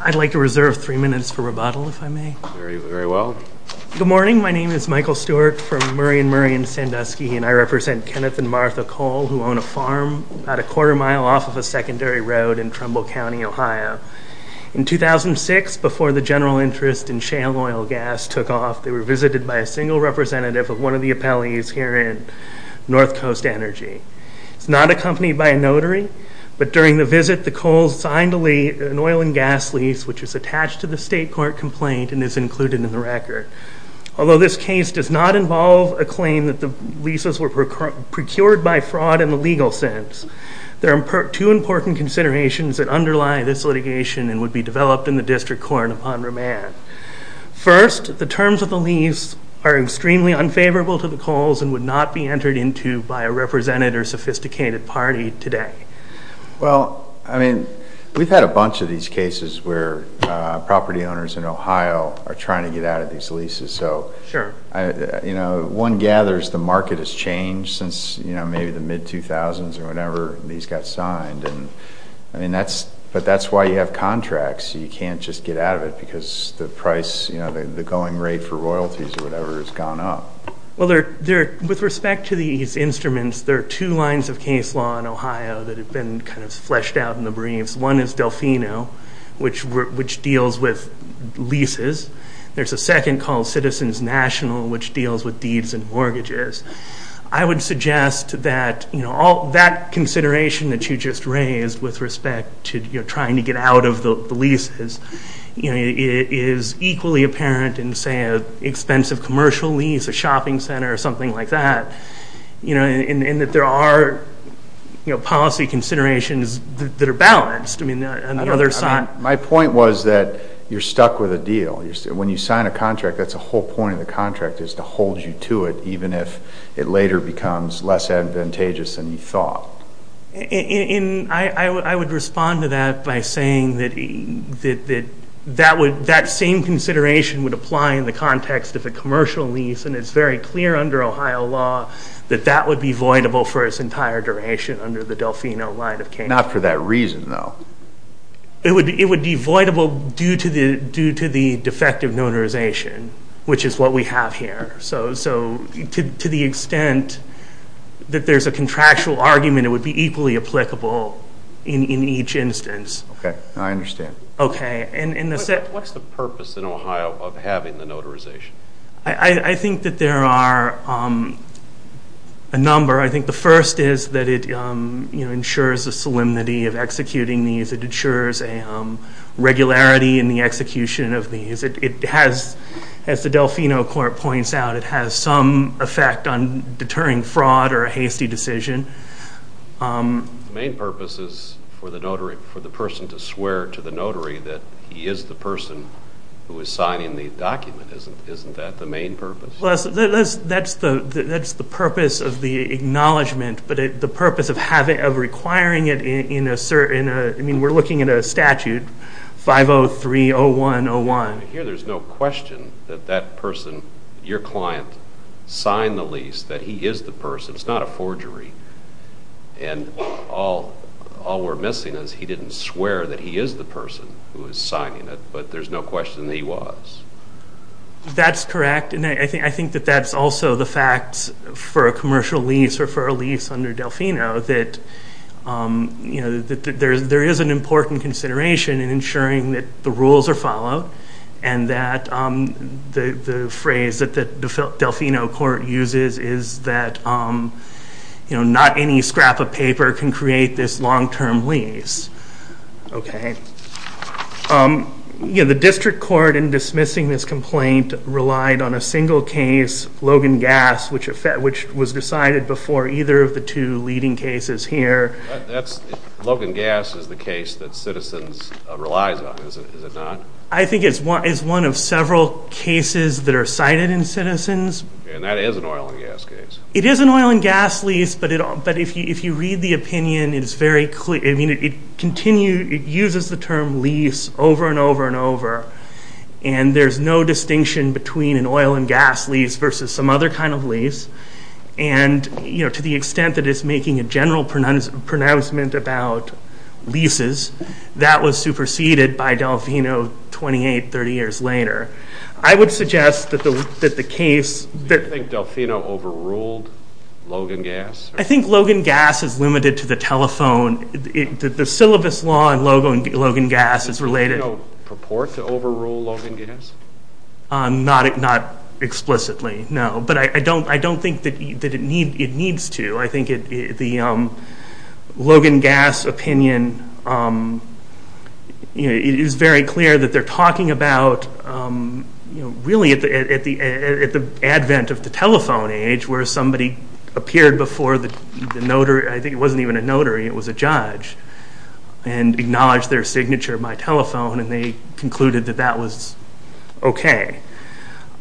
I'd like to reserve three minutes for rebuttal, if I may. Very, very well. Good morning. My name is Michael Stewart from Murray & Murray in Sandusky, and I represent Kenneth and Martha Cole, who own a farm about a quarter mile off of a secondary road in Trumbull County, Ohio. In 2006, before the general interest in shale oil gas took off, they were visited by a single representative of one of the appellees here in North Coast Energy. It's not accompanied by a notary, but during the visit, the Coles signed an oil and gas lease, which is attached to the state court complaint and is included in the record. Although this case does not involve a claim that the leases were procured by fraud in the legal sense, there are two important considerations that underlie this litigation and would be developed in the district court upon remand. First, the terms of the lease are extremely unfavorable to the Coles and would not be entered into by a representative or sophisticated party today. Well, I mean, we've had a bunch of these cases where property owners in Ohio are trying to get out of these leases. So, you know, one gathers the market has changed since, you know, maybe the mid-2000s or whenever these got signed, and I mean, that's why you have contracts. You can't just get out of it because the price, you know, the going rate for royalties or whatever has gone up. Well, with respect to these instruments, there are two lines of case law in Ohio that have been kind of fleshed out in the briefs. One is Delfino, which deals with leases. There's a second called Citizens National, which deals with deeds and mortgages. I would suggest that, you know, that consideration that you just raised with respect to, you know, trying to get out of the leases, you know, is equally apparent in, say, an expensive commercial lease, a shopping center or something like that, you know, and that there are, you know, policy considerations that are balanced. I mean, on the other side. My point was that you're stuck with a deal. When you sign a contract, that's the whole point of the contract is to hold you to it, even if it later becomes less advantageous than you thought. And I would respond to that by saying that that same consideration would apply in the context of a commercial lease, and it's very clear under Ohio law that that would be voidable for its entire duration under the Delfino line of case law. Not for that reason, though. It would be voidable due to the defective notarization, which is what we have here. So to the extent that there's a contractual argument, it would be equally applicable in each instance. Okay. I understand. Okay. What's the purpose in Ohio of having the notarization? I think that there are a number. I think the first is that it ensures the solemnity of executing these. It ensures a regularity in the execution of these. As the Delfino Court points out, it has some effect on deterring fraud or a hasty decision. The main purpose is for the person to swear to the notary that he is the person who is signing the document. Isn't that the main purpose? That's the purpose of the acknowledgment, but the purpose of requiring it in a certain – I mean, we're looking at a statute, 503-0101. Here there's no question that that person, your client, signed the lease, that he is the person. It's not a forgery. And all we're missing is he didn't swear that he is the person who is signing it, but there's no question that he was. That's correct, and I think that that's also the fact for a commercial lease or for a lease under Delfino, that there is an important consideration in ensuring that the rules are followed and that the phrase that the Delfino Court uses is that not any scrap of paper can create this long-term lease. Okay. The district court in dismissing this complaint relied on a single case, Logan Gas, which was decided before either of the two leading cases here. Logan Gas is the case that Citizens relies on, is it not? I think it's one of several cases that are cited in Citizens. And that is an oil and gas case. It is an oil and gas lease, but if you read the opinion, it's very clear. I mean, it uses the term lease over and over and over, and there's no distinction between an oil and gas lease versus some other kind of lease. And, you know, to the extent that it's making a general pronouncement about leases, that was superseded by Delfino 28, 30 years later. I would suggest that the case that... Do you think Delfino overruled Logan Gas? I think Logan Gas is limited to the telephone. The syllabus law in Logan Gas is related. Did Delfino purport to overrule Logan Gas? Not explicitly, no. But I don't think that it needs to. I think the Logan Gas opinion, you know, it is very clear that they're talking about, you know, really at the advent of the telephone age, where somebody appeared before the notary. I think it wasn't even a notary, it was a judge, and acknowledged their signature by telephone, and they concluded that that was okay.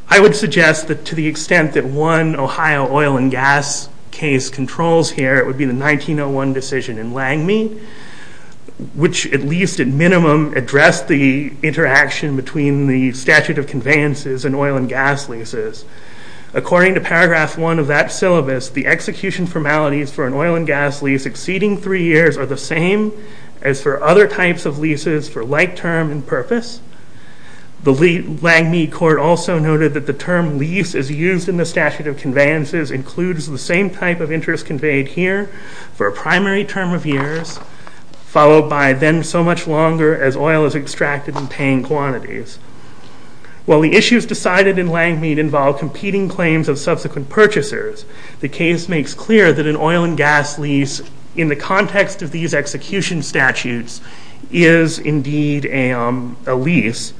I would suggest that to the extent that one Ohio oil and gas case controls here, it would be the 1901 decision in Langmead, which at least at minimum addressed the interaction between the statute of conveyances and oil and gas leases. According to paragraph one of that syllabus, the execution formalities for an oil and gas lease exceeding three years are the same as for other types of leases for like term and purpose. The Langmead court also noted that the term lease as used in the statute of conveyances includes the same type of interest conveyed here for a primary term of years, followed by then so much longer as oil is extracted in paying quantities. While the issues decided in Langmead involve competing claims of subsequent purchasers, the case makes clear that an oil and gas lease in the context of these execution statutes is indeed a lease,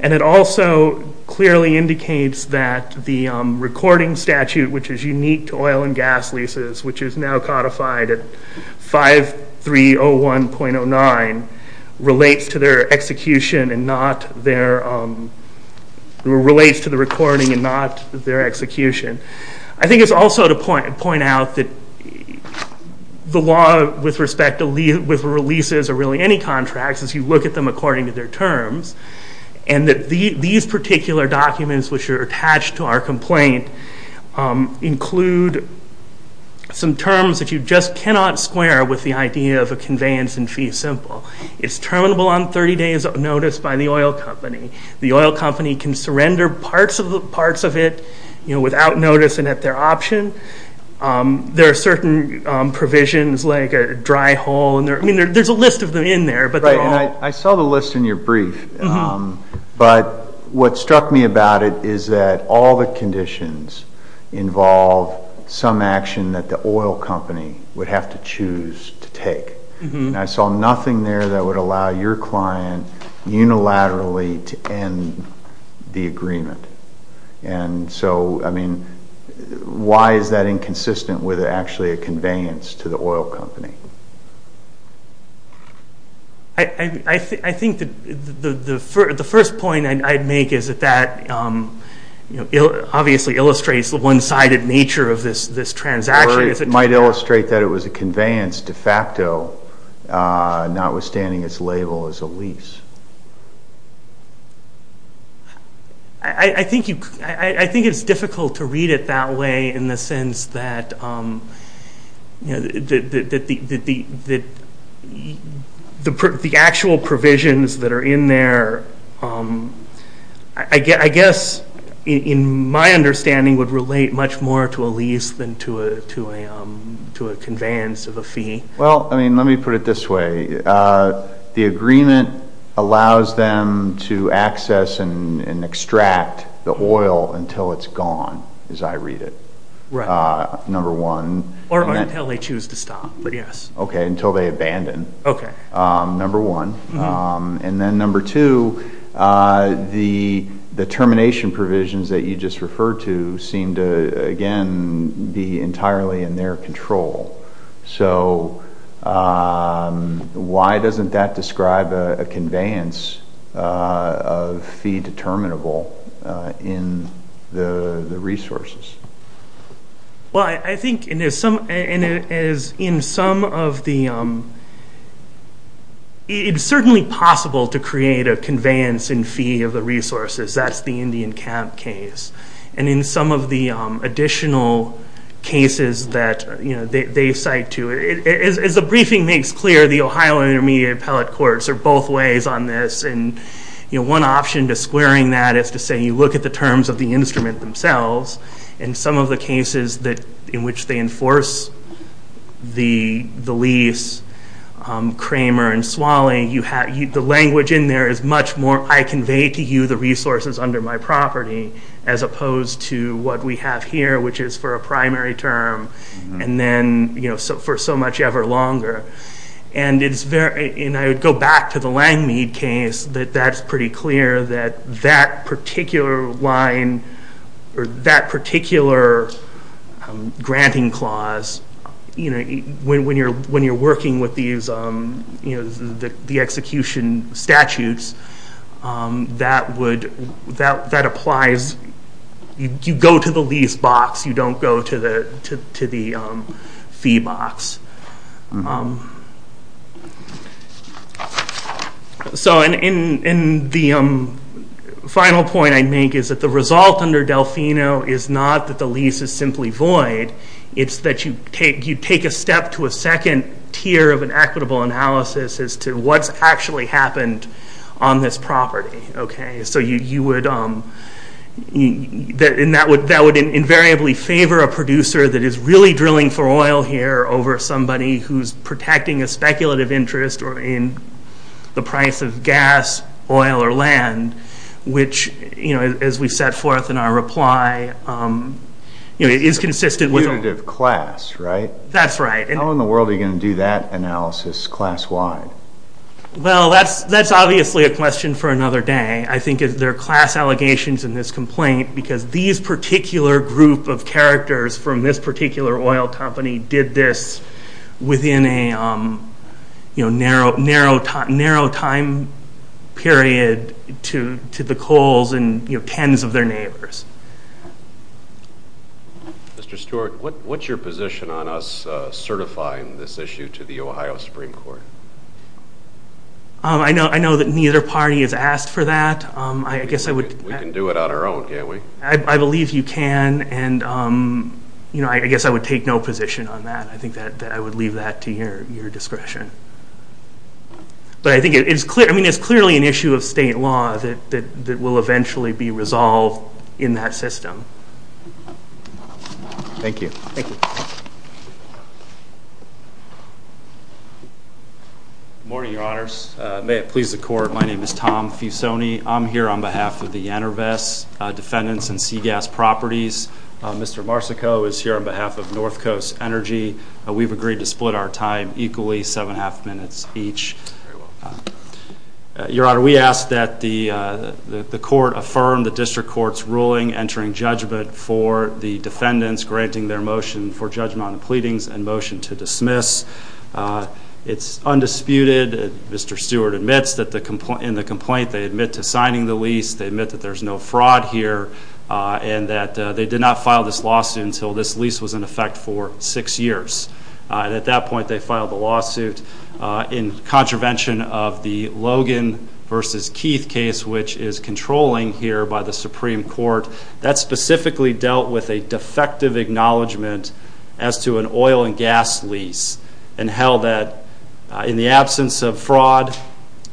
and it also clearly indicates that the recording statute, which is unique to oil and gas leases, which is now codified at 5301.09, relates to the recording and not their execution. I think it's also to point out that the law with respect to leases or really any contracts, as you look at them according to their terms, and that these particular documents which are attached to our complaint include some terms that you just cannot square with the idea of a conveyance in fee simple. It's terminable on 30 days' notice by the oil company. The oil company can surrender parts of it without notice and at their option. There are certain provisions like a dry hole, and there's a list of them in there, but they're all... Right, and I saw the list in your brief, but what struck me about it is that all the conditions involve some action that the oil company would have to choose to take, and I saw nothing there that would allow your client unilaterally to end the agreement. And so, I mean, why is that inconsistent with actually a conveyance to the oil company? I think that the first point I'd make is that that obviously illustrates the one-sided nature of this transaction. Or it might illustrate that it was a conveyance de facto, notwithstanding its label as a lease. I think it's difficult to read it that way in the sense that the actual provisions that are in there, I guess, in my understanding, would relate much more to a lease than to a conveyance of a fee. Well, I mean, let me put it this way. The agreement allows them to access and extract the oil until it's gone, as I read it. Right. Number one. Or until they choose to stop, but yes. Okay, until they abandon. Okay. Number one. And then number two, the termination provisions that you just referred to seem to, again, be entirely in their control. So why doesn't that describe a conveyance of fee determinable in the resources? Well, I think in some of the, it's certainly possible to create a conveyance in fee of the resources. That's the Indian camp case. And in some of the additional cases that they cite to, as the briefing makes clear, the Ohio Intermediate Appellate Courts are both ways on this. And one option to squaring that is to say, you look at the terms of the instrument themselves, and some of the cases in which they enforce the lease, Kramer and Swaley, the language in there is much more, I convey to you the resources under my property, as opposed to what we have here, which is for a primary term, and then for so much ever longer. And I would go back to the Langmead case, that that's pretty clear that that particular line, or that particular granting clause, when you're working with the execution statutes, that applies, you go to the lease box, you don't go to the fee box. And the final point I'd make is that the result under Delfino is not that the lease is simply void, it's that you take a step to a second tier of an equitable analysis as to what's actually happened on this property. And that would invariably favor a producer that is really drilling for oil here over somebody who's protecting a speculative interest in the price of gas, oil, or land, which, as we set forth in our reply, is consistent with... It's a punitive class, right? That's right. How in the world are you going to do that analysis class-wide? Well, that's obviously a question for another day. I think there are class allegations in this complaint because these particular group of characters from this particular oil company did this within a narrow time period to the Kohl's and tens of their neighbors. Mr. Stewart, what's your position on us certifying this issue to the Ohio Supreme Court? I know that neither party has asked for that. We can do it on our own, can't we? I believe you can, and I guess I would take no position on that. I think that I would leave that to your discretion. But I think it's clearly an issue of state law that will eventually be resolved in that system. Thank you. Good morning, Your Honors. May it please the Court, my name is Tom Fusoni. I'm here on behalf of the Enerves defendants and Seagas Properties. Mr. Marsico is here on behalf of North Coast Energy. We've agreed to split our time equally, seven and a half minutes each. Your Honor, we ask that the Court affirm the District Court's ruling entering judgment for the defendants granting their motion for judgment on the pleadings and motion to dismiss. It's undisputed. Mr. Stewart admits that in the complaint they admit to signing the lease, they admit that there's no fraud here, and that they did not file this lawsuit until this lease was in effect for six years. At that point, they filed the lawsuit in contravention of the Logan v. Keith case, which is controlling here by the Supreme Court. That specifically dealt with a defective acknowledgement as to an oil and gas lease, and held that in the absence of fraud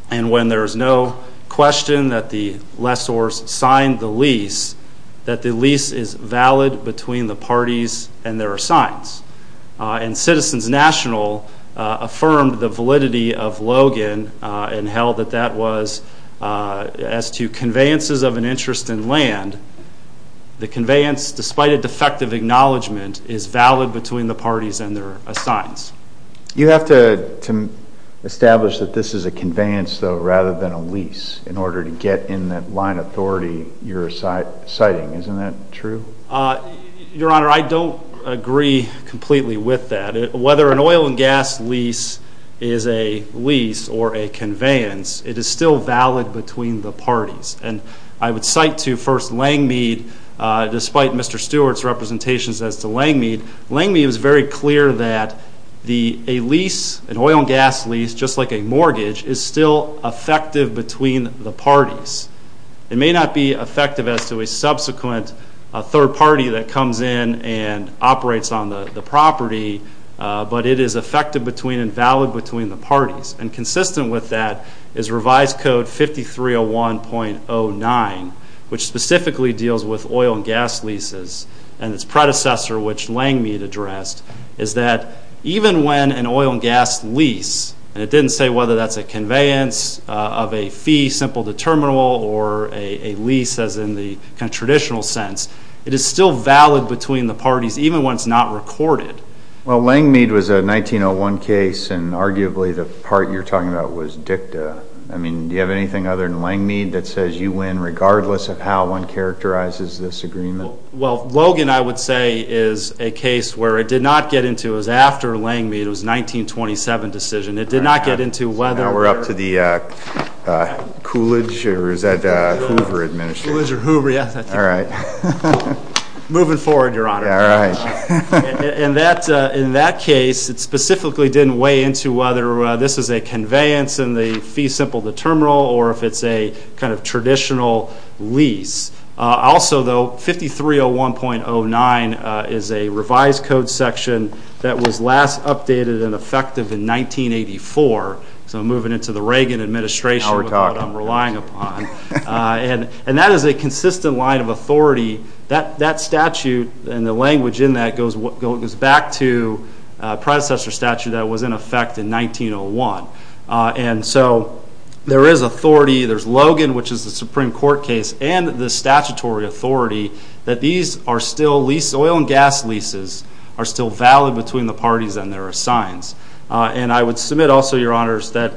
and when there is no question that the lessors signed the lease, that the lease is valid between the parties and there are signs. And Citizens National affirmed the validity of Logan and held that that was as to conveyances of an interest in land. The conveyance, despite a defective acknowledgement, is valid between the parties and there are signs. You have to establish that this is a conveyance, though, rather than a lease, in order to get in that line of authority you're citing. Isn't that true? Your Honor, I don't agree completely with that. Whether an oil and gas lease is a lease or a conveyance, it is still valid between the parties. And I would cite to, first, Langmead, despite Mr. Stewart's representations as to Langmead. Langmead was very clear that a lease, an oil and gas lease, just like a mortgage, is still effective between the parties. It may not be effective as to a subsequent third party that comes in and operates on the property, but it is effective between and valid between the parties. And consistent with that is Revised Code 5301.09, which specifically deals with oil and gas leases and its predecessor, which Langmead addressed, is that even when an oil and gas lease, and it didn't say whether that's a conveyance of a fee, simple determinable, or a lease as in the traditional sense, it is still valid between the parties, even when it's not recorded. Well, Langmead was a 1901 case and arguably the part you're talking about was dicta. I mean, do you have anything other than Langmead that says you win, regardless of how one characterizes this agreement? Well, Logan, I would say, is a case where it did not get into, it was after Langmead, it was a 1927 decision, it did not get into whether... Now we're up to the Coolidge, or is that Hoover administration? Coolidge or Hoover, yes. All right. Moving forward, Your Honor. All right. In that case, it specifically didn't weigh into whether this is a conveyance and the fee simple determinable, or if it's a kind of traditional lease. Also, though, 5301.09 is a revised code section that was last updated and effective in 1984. So I'm moving into the Reagan administration with what I'm relying upon. And that is a consistent line of authority. That statute and the language in that goes back to a predecessor statute that was in effect in 1901. And so there is authority. There's Logan, which is the Supreme Court case, and the statutory authority that these are still lease... Oil and gas leases are still valid between the parties and their assigns. And I would submit also, Your Honors, that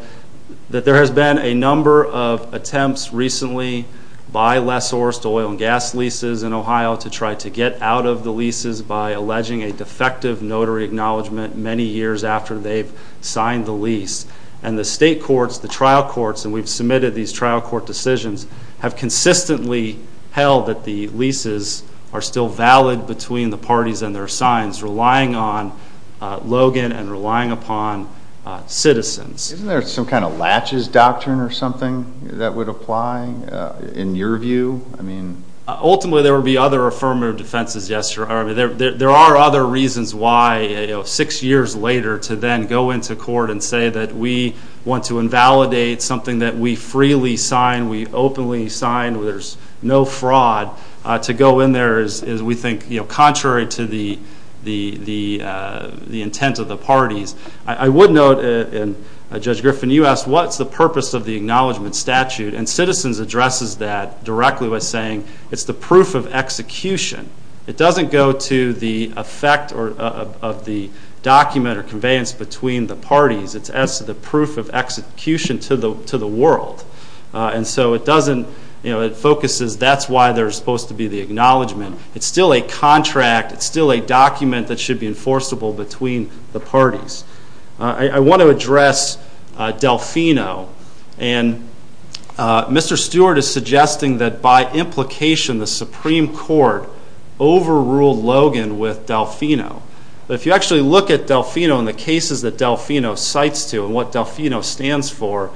there has been a number of attempts recently by less sourced oil and gas leases in Ohio to try to get out of the leases by alleging a defective notary acknowledgement many years after they've signed the lease. And the state courts, the trial courts, and we've submitted these trial court decisions, have consistently held that the leases are still valid between the parties and their assigns, relying on Logan and relying upon citizens. Isn't there some kind of latches doctrine or something that would apply in your view? Ultimately, there would be other affirmative defenses, yes, Your Honor. There are other reasons why six years later to then go into court and say that we want to invalidate something that we freely sign, we openly sign, where there's no fraud, to go in there is, we think, contrary to the intent of the parties. I would note, and Judge Griffin, you asked what's the purpose of the acknowledgement statute, and Citizens addresses that directly by saying it's the proof of execution. It doesn't go to the effect of the document or conveyance between the parties. It's as the proof of execution to the world. And so it focuses, that's why there's supposed to be the acknowledgement. It's still a contract. It's still a document that should be enforceable between the parties. I want to address Delfino. And Mr. Stewart is suggesting that by implication, the Supreme Court overruled Logan with Delfino. But if you actually look at Delfino and the cases that Delfino cites to and what Delfino stands for,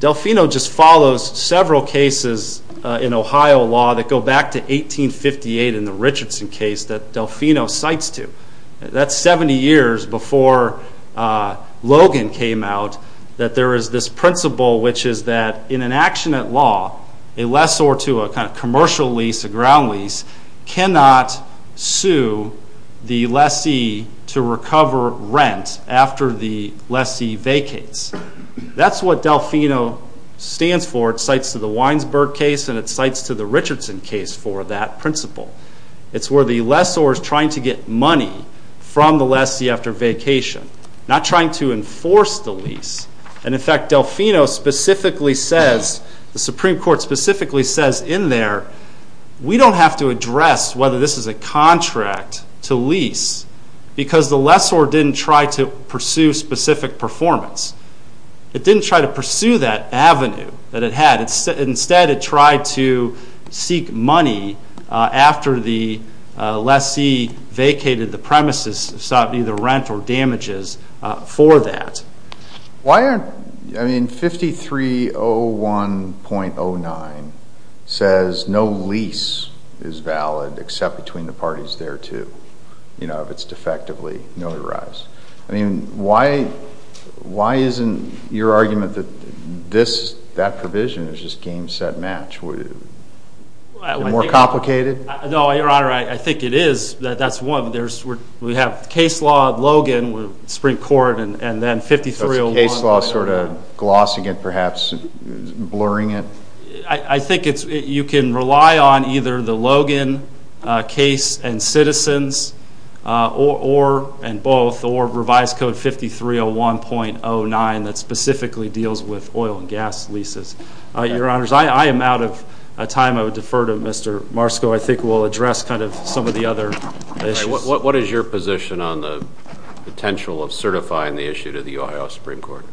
Delfino just follows several cases in Ohio law that go back to 1858 in the Richardson case that Delfino cites to. That's 70 years before Logan came out that there is this principle, which is that in an action at law, a lessor to a kind of commercial lease, a ground lease, cannot sue the lessee to recover rent after the lessee vacates. That's what Delfino stands for. It cites to the Weinsberg case and it cites to the Richardson case for that principle. It's where the lessor is trying to get money from the lessee after vacation, not trying to enforce the lease. And in fact, Delfino specifically says, the Supreme Court specifically says in there, we don't have to address whether this is a contract to lease because the lessor didn't try to pursue specific performance. It didn't try to pursue that avenue that it had. Instead, it tried to seek money after the lessee vacated the premises and sought either rent or damages for that. Why aren't, I mean, 5301.09 says no lease is valid except between the parties thereto, you know, if it's defectively notarized. I mean, why isn't your argument that that provision is just game, set, match? Would it be more complicated? No, Your Honor, I think it is. That's one. We have the case law of Logan, the Supreme Court, and then 5301.09. Case law sort of glossing it perhaps, blurring it? I think you can rely on either the Logan case and citizens and both or revised code 5301.09 that specifically deals with oil and gas leases. Your Honors, I am out of time. I would defer to Mr. Marsco. I think we'll address kind of some of the other issues. What is your position on the potential of certifying the issue to the Ohio Supreme Court?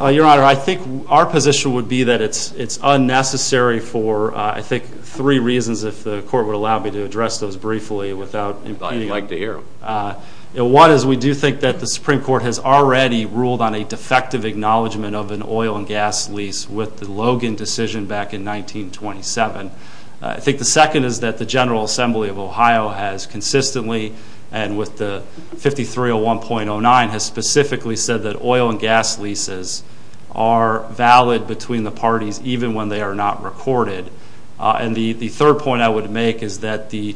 Your Honor, I think our position would be that it's unnecessary for, I think, three reasons, if the Court would allow me to address those briefly. I'd like to hear them. One is we do think that the Supreme Court has already ruled on a defective acknowledgement of an oil and gas lease with the Logan decision back in 1927. I think the second is that the General Assembly of Ohio has consistently, and with the 5301.09, has specifically said that oil and gas leases are valid between the parties even when they are not recorded. And the third point I would make is that the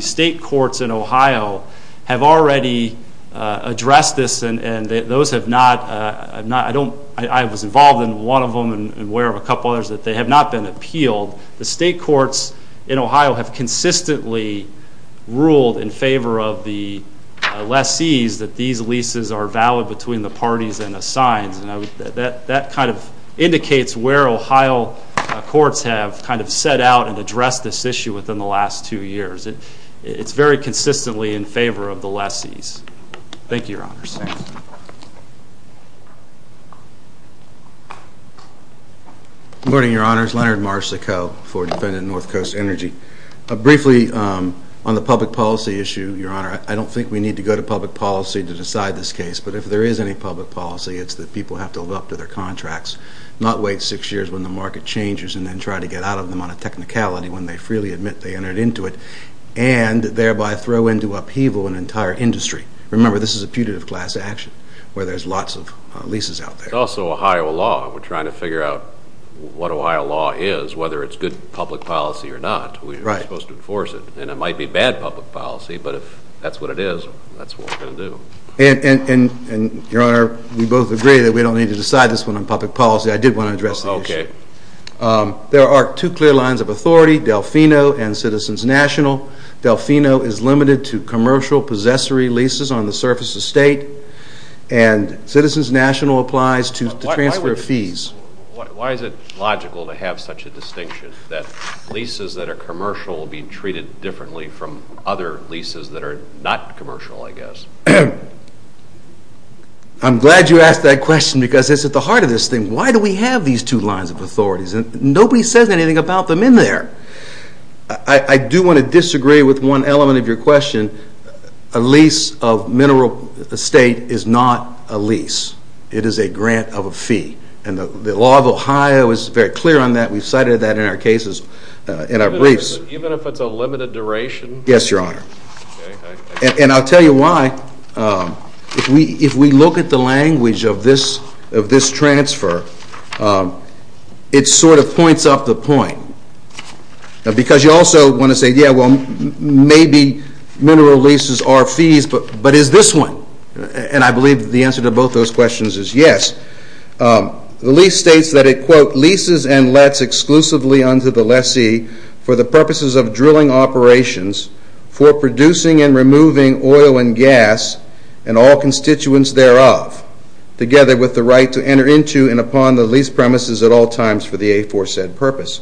state courts in Ohio have already addressed this, and those have not. I was involved in one of them and aware of a couple others that they have not been appealed. The state courts in Ohio have consistently ruled in favor of the lessees that these leases are valid between the parties and the signs. That kind of indicates where Ohio courts have kind of set out and addressed this issue within the last two years. It's very consistently in favor of the lessees. Thank you, Your Honors. Good morning, Your Honors. Leonard Marsico for Defendant North Coast Energy. Briefly on the public policy issue, Your Honor, I don't think we need to go to public policy to decide this case, but if there is any public policy, it's that people have to live up to their contracts, not wait six years when the market changes and then try to get out of them on a technicality when they freely admit they entered into it, and thereby throw into upheaval an entire industry. Remember, this is a putative class action where there's lots of leases out there. It's also Ohio law. We're trying to figure out what Ohio law is, whether it's good public policy or not. We're supposed to enforce it, and it might be bad public policy, but if that's what it is, that's what we're going to do. And, Your Honor, we both agree that we don't need to decide this one on public policy. I did want to address the issue. There are two clear lines of authority, Delfino and Citizens National. Delfino is limited to commercial possessory leases on the surface estate, and Citizens National applies to transfer fees. Why is it logical to have such a distinction that leases that are commercial will be treated differently from other leases that are not commercial, I guess? I'm glad you asked that question because it's at the heart of this thing. Why do we have these two lines of authorities? Nobody says anything about them in there. I do want to disagree with one element of your question. A lease of mineral estate is not a lease. It is a grant of a fee, and the law of Ohio is very clear on that. We've cited that in our briefs. Even if it's a limited duration? Yes, Your Honor. And I'll tell you why. If we look at the language of this transfer, it sort of points up the point. Because you also want to say, yeah, well, maybe mineral leases are fees, but is this one? And I believe the answer to both those questions is yes. The lease states that it, quote, leases and lets exclusively unto the lessee for the purposes of drilling operations for producing and removing oil and gas and all constituents thereof, together with the right to enter into and upon the lease premises at all times for the aforesaid purpose,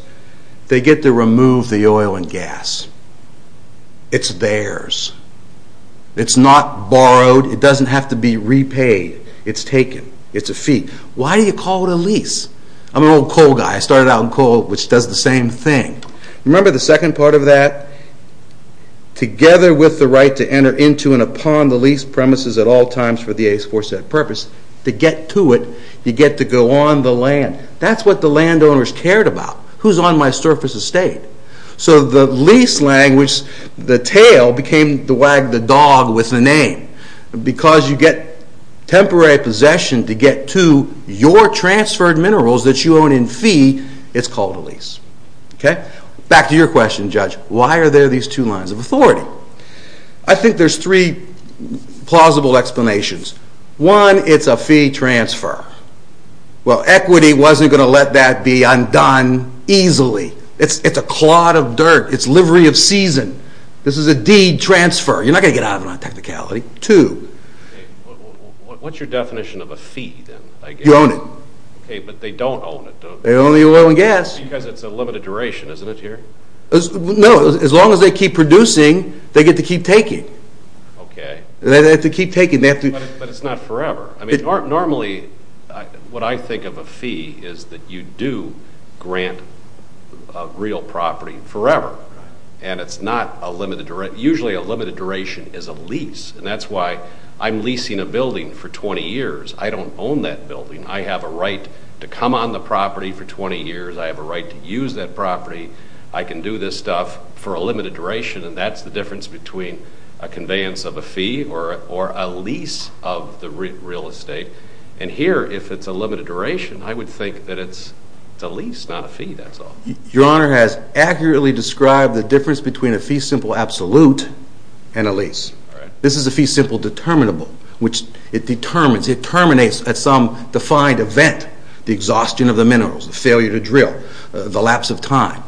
they get to remove the oil and gas. It's theirs. It's not borrowed. It doesn't have to be repaid. It's taken. It's a fee. Why do you call it a lease? I'm an old coal guy. I started out in coal, which does the same thing. Remember the second part of that? Together with the right to enter into and upon the lease premises at all times for the aforesaid purpose, to get to it, you get to go on the land. That's what the landowners cared about. Who's on my surface estate? So the lease language, the tail, became the wag the dog with the name. Because you get temporary possession to get to your transferred minerals that you own in fee, it's called a lease. Back to your question, Judge. Why are there these two lines of authority? I think there's three plausible explanations. One, it's a fee transfer. Well, equity wasn't going to let that be undone easily. It's a clod of dirt. It's livery of season. This is a deed transfer. You're not going to get out of it on technicality. Two. What's your definition of a fee, then? You own it. Okay, but they don't own it. They own the oil and gas. Because it's a limited duration, isn't it, here? No, as long as they keep producing, they get to keep taking. Okay. They have to keep taking. But it's not forever. Normally, what I think of a fee is that you do grant real property forever. And it's not a limited duration. Usually, a limited duration is a lease. And that's why I'm leasing a building for 20 years. I don't own that building. I have a right to come on the property for 20 years. I have a right to use that property. I can do this stuff for a limited duration. And that's the difference between a conveyance of a fee or a lease of the real estate. And here, if it's a limited duration, I would think that it's a lease, not a fee, that's all. Your Honor has accurately described the difference between a fee simple absolute and a lease. This is a fee simple determinable, which it determines. It terminates at some defined event, the exhaustion of the minerals, the failure to drill, the lapse of time.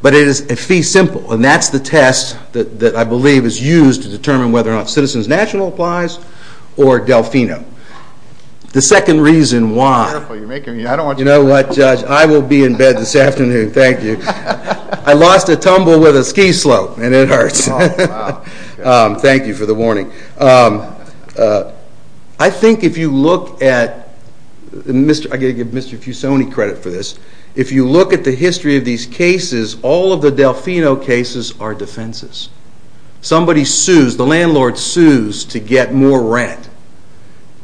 But it is a fee simple, and that's the test that I believe is used to determine whether or not Citizens National applies or Delfino. The second reason why... You're making me... You know what, Judge? I will be in bed this afternoon. Thank you. I lost a tumble with a ski slope, and it hurts. Oh, wow. Thank you for the warning. I think if you look at... I've got to give Mr. Fusoni credit for this. If you look at the history of these cases, all of the Delfino cases are defenses. Somebody sues. The landlord sues to get more rent.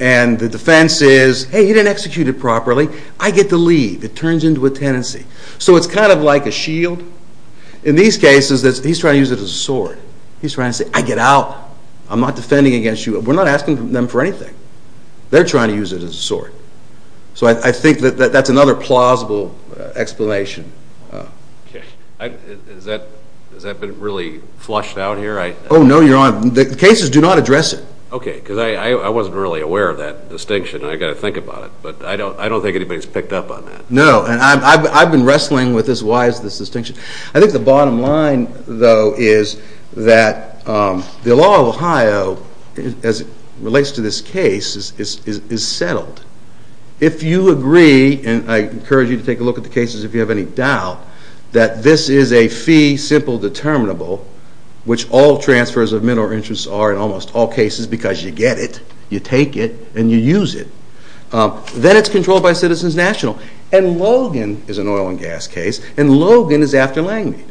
And the defense is, hey, you didn't execute it properly. I get to leave. It turns into a tenancy. So it's kind of like a shield. In these cases, he's trying to use it as a sword. He's trying to say, I get out. I'm not defending against you. We're not asking them for anything. They're trying to use it as a sword. So I think that that's another plausible explanation. Okay. Has that been really flushed out here? Oh, no, Your Honor. The cases do not address it. Okay, because I wasn't really aware of that distinction. I've got to think about it. But I don't think anybody's picked up on that. No, and I've been wrestling with this. Why is this a distinction? I think the bottom line, though, is that the law of Ohio, as it relates to this case, is settled. If you agree, and I encourage you to take a look at the cases if you have any doubt, that this is a fee simple determinable, which all transfers of mineral interests are in almost all cases because you get it, you take it, and you use it. Then it's controlled by Citizens National. And Logan is an oil and gas case, and Logan is after Langmead.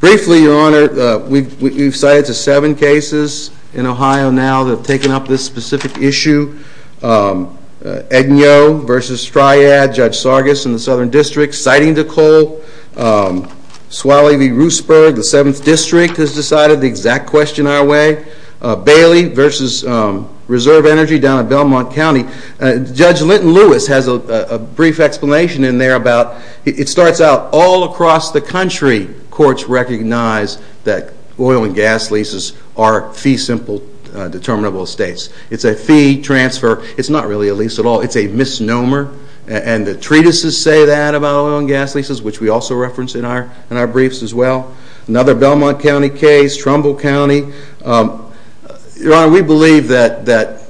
Briefly, Your Honor, we've cited the seven cases in Ohio now that have taken up this specific issue. Edgneaux v. Stryad, Judge Sargas in the Southern District, citing the coal. Swalley v. Roosburg, the 7th District, has decided the exact question our way. Bailey v. Reserve Energy down in Belmont County. Judge Linton Lewis has a brief explanation in there about it starts out, all across the country, courts recognize that oil and gas leases are fee simple determinable estates. It's a fee transfer. It's not really a lease at all. It's a misnomer, and the treatises say that about oil and gas leases, which we also reference in our briefs as well. Another Belmont County case, Trumbull County. Your Honor, we believe that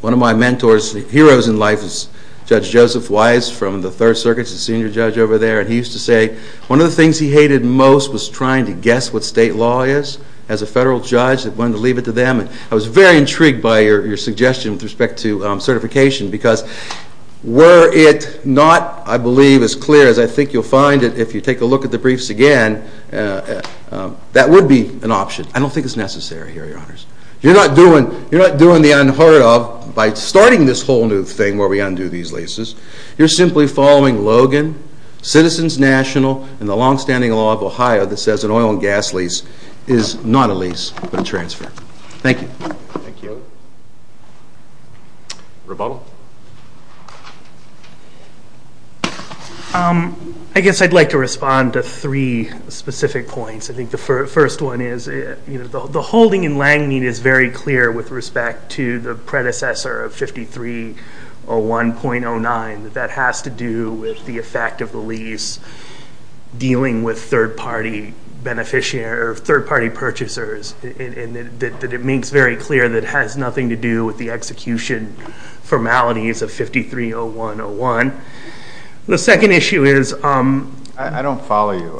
one of my mentors, heroes in life, is Judge Joseph Wise from the Third Circuit. He's a senior judge over there, and he used to say one of the things he hated most was trying to guess what state law is as a federal judge that wanted to leave it to them. I was very intrigued by your suggestion with respect to certification, because were it not, I believe, as clear as I think you'll find it, if you take a look at the briefs again, that would be an option. I don't think it's necessary here, Your Honors. You're not doing the unheard of by starting this whole new thing where we undo these leases. You're simply following Logan, Citizens National, and the longstanding law of Ohio that says an oil and gas lease is not a lease but a transfer. Thank you. Thank you. Roboto. I guess I'd like to respond to three specific points. I think the first one is the holding in Langmead is very clear with respect to the predecessor of 5301.09 that that has to do with the effect of the lease dealing with third-party purchasers, and that it makes very clear that it has nothing to do with the execution formalities of 5301.01. The second issue is... I don't follow you.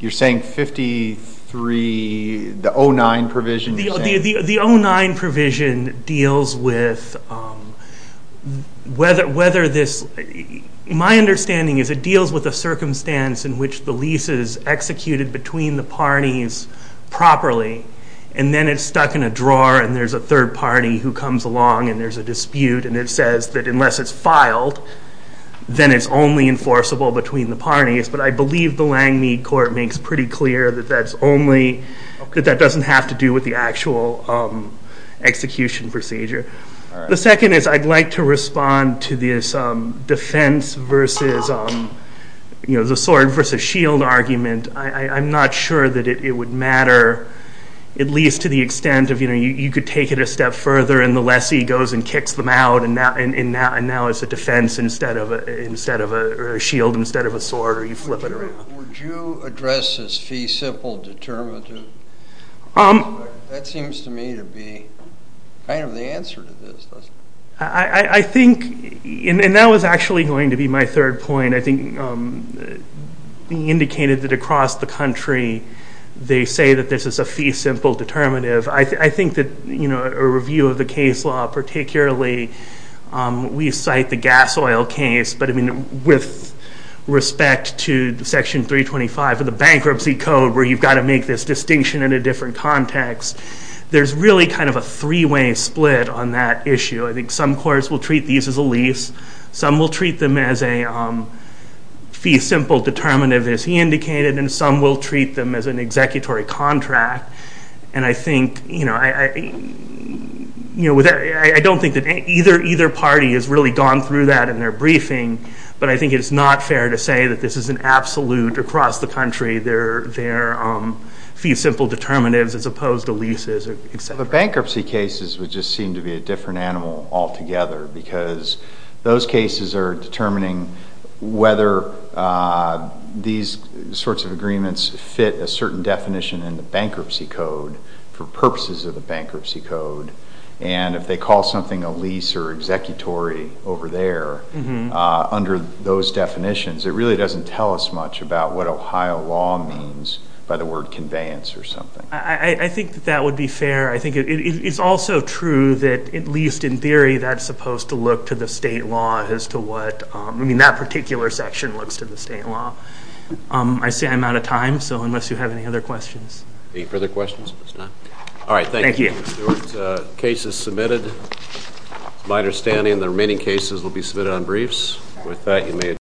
You're saying 5309 provision? The 09 provision deals with whether this, my understanding is it deals with a circumstance in which the lease is executed between the parties properly, and then it's stuck in a drawer, and there's a third party who comes along, and there's a dispute, and it says that unless it's filed, then it's only enforceable between the parties. But I believe the Langmead court makes pretty clear that that doesn't have to do with the actual execution procedure. The second is I'd like to respond to this defense versus, you know, the sword versus shield argument. I'm not sure that it would matter, at least to the extent of, you know, you could take it a step further, and the lessee goes and kicks them out, and now it's a defense instead of a shield, instead of a sword, or you flip it around. Would you address this fee simple determinative? That seems to me to be kind of the answer to this. I think, and that was actually going to be my third point, I think being indicated that across the country they say that this is a fee simple determinative. I think that, you know, a review of the case law, particularly we cite the gas oil case, but I mean with respect to section 325 of the bankruptcy code where you've got to make this distinction in a different context, there's really kind of a three-way split on that issue. I think some courts will treat these as a lease, some will treat them as a fee simple determinative, as he indicated, and some will treat them as an executory contract, and I think, you know, I don't think that either party has really gone through that in their briefing, but I think it's not fair to say that this is an absolute across the country. They're fee simple determinatives as opposed to leases, et cetera. The bankruptcy cases would just seem to be a different animal altogether because those cases are determining whether these sorts of agreements fit a certain definition in the bankruptcy code for purposes of the bankruptcy code, and if they call something a lease or executory over there under those definitions, it really doesn't tell us much about what Ohio law means by the word conveyance or something. I think that that would be fair. I think it's also true that, at least in theory, that's supposed to look to the state law as to what, I mean, that particular section looks to the state law. I see I'm out of time, so unless you have any other questions. Any further questions? All right, thank you, Stuart. Thank you. The case is submitted. It's my understanding the remaining cases will be submitted on briefs. With that, you may adjourn.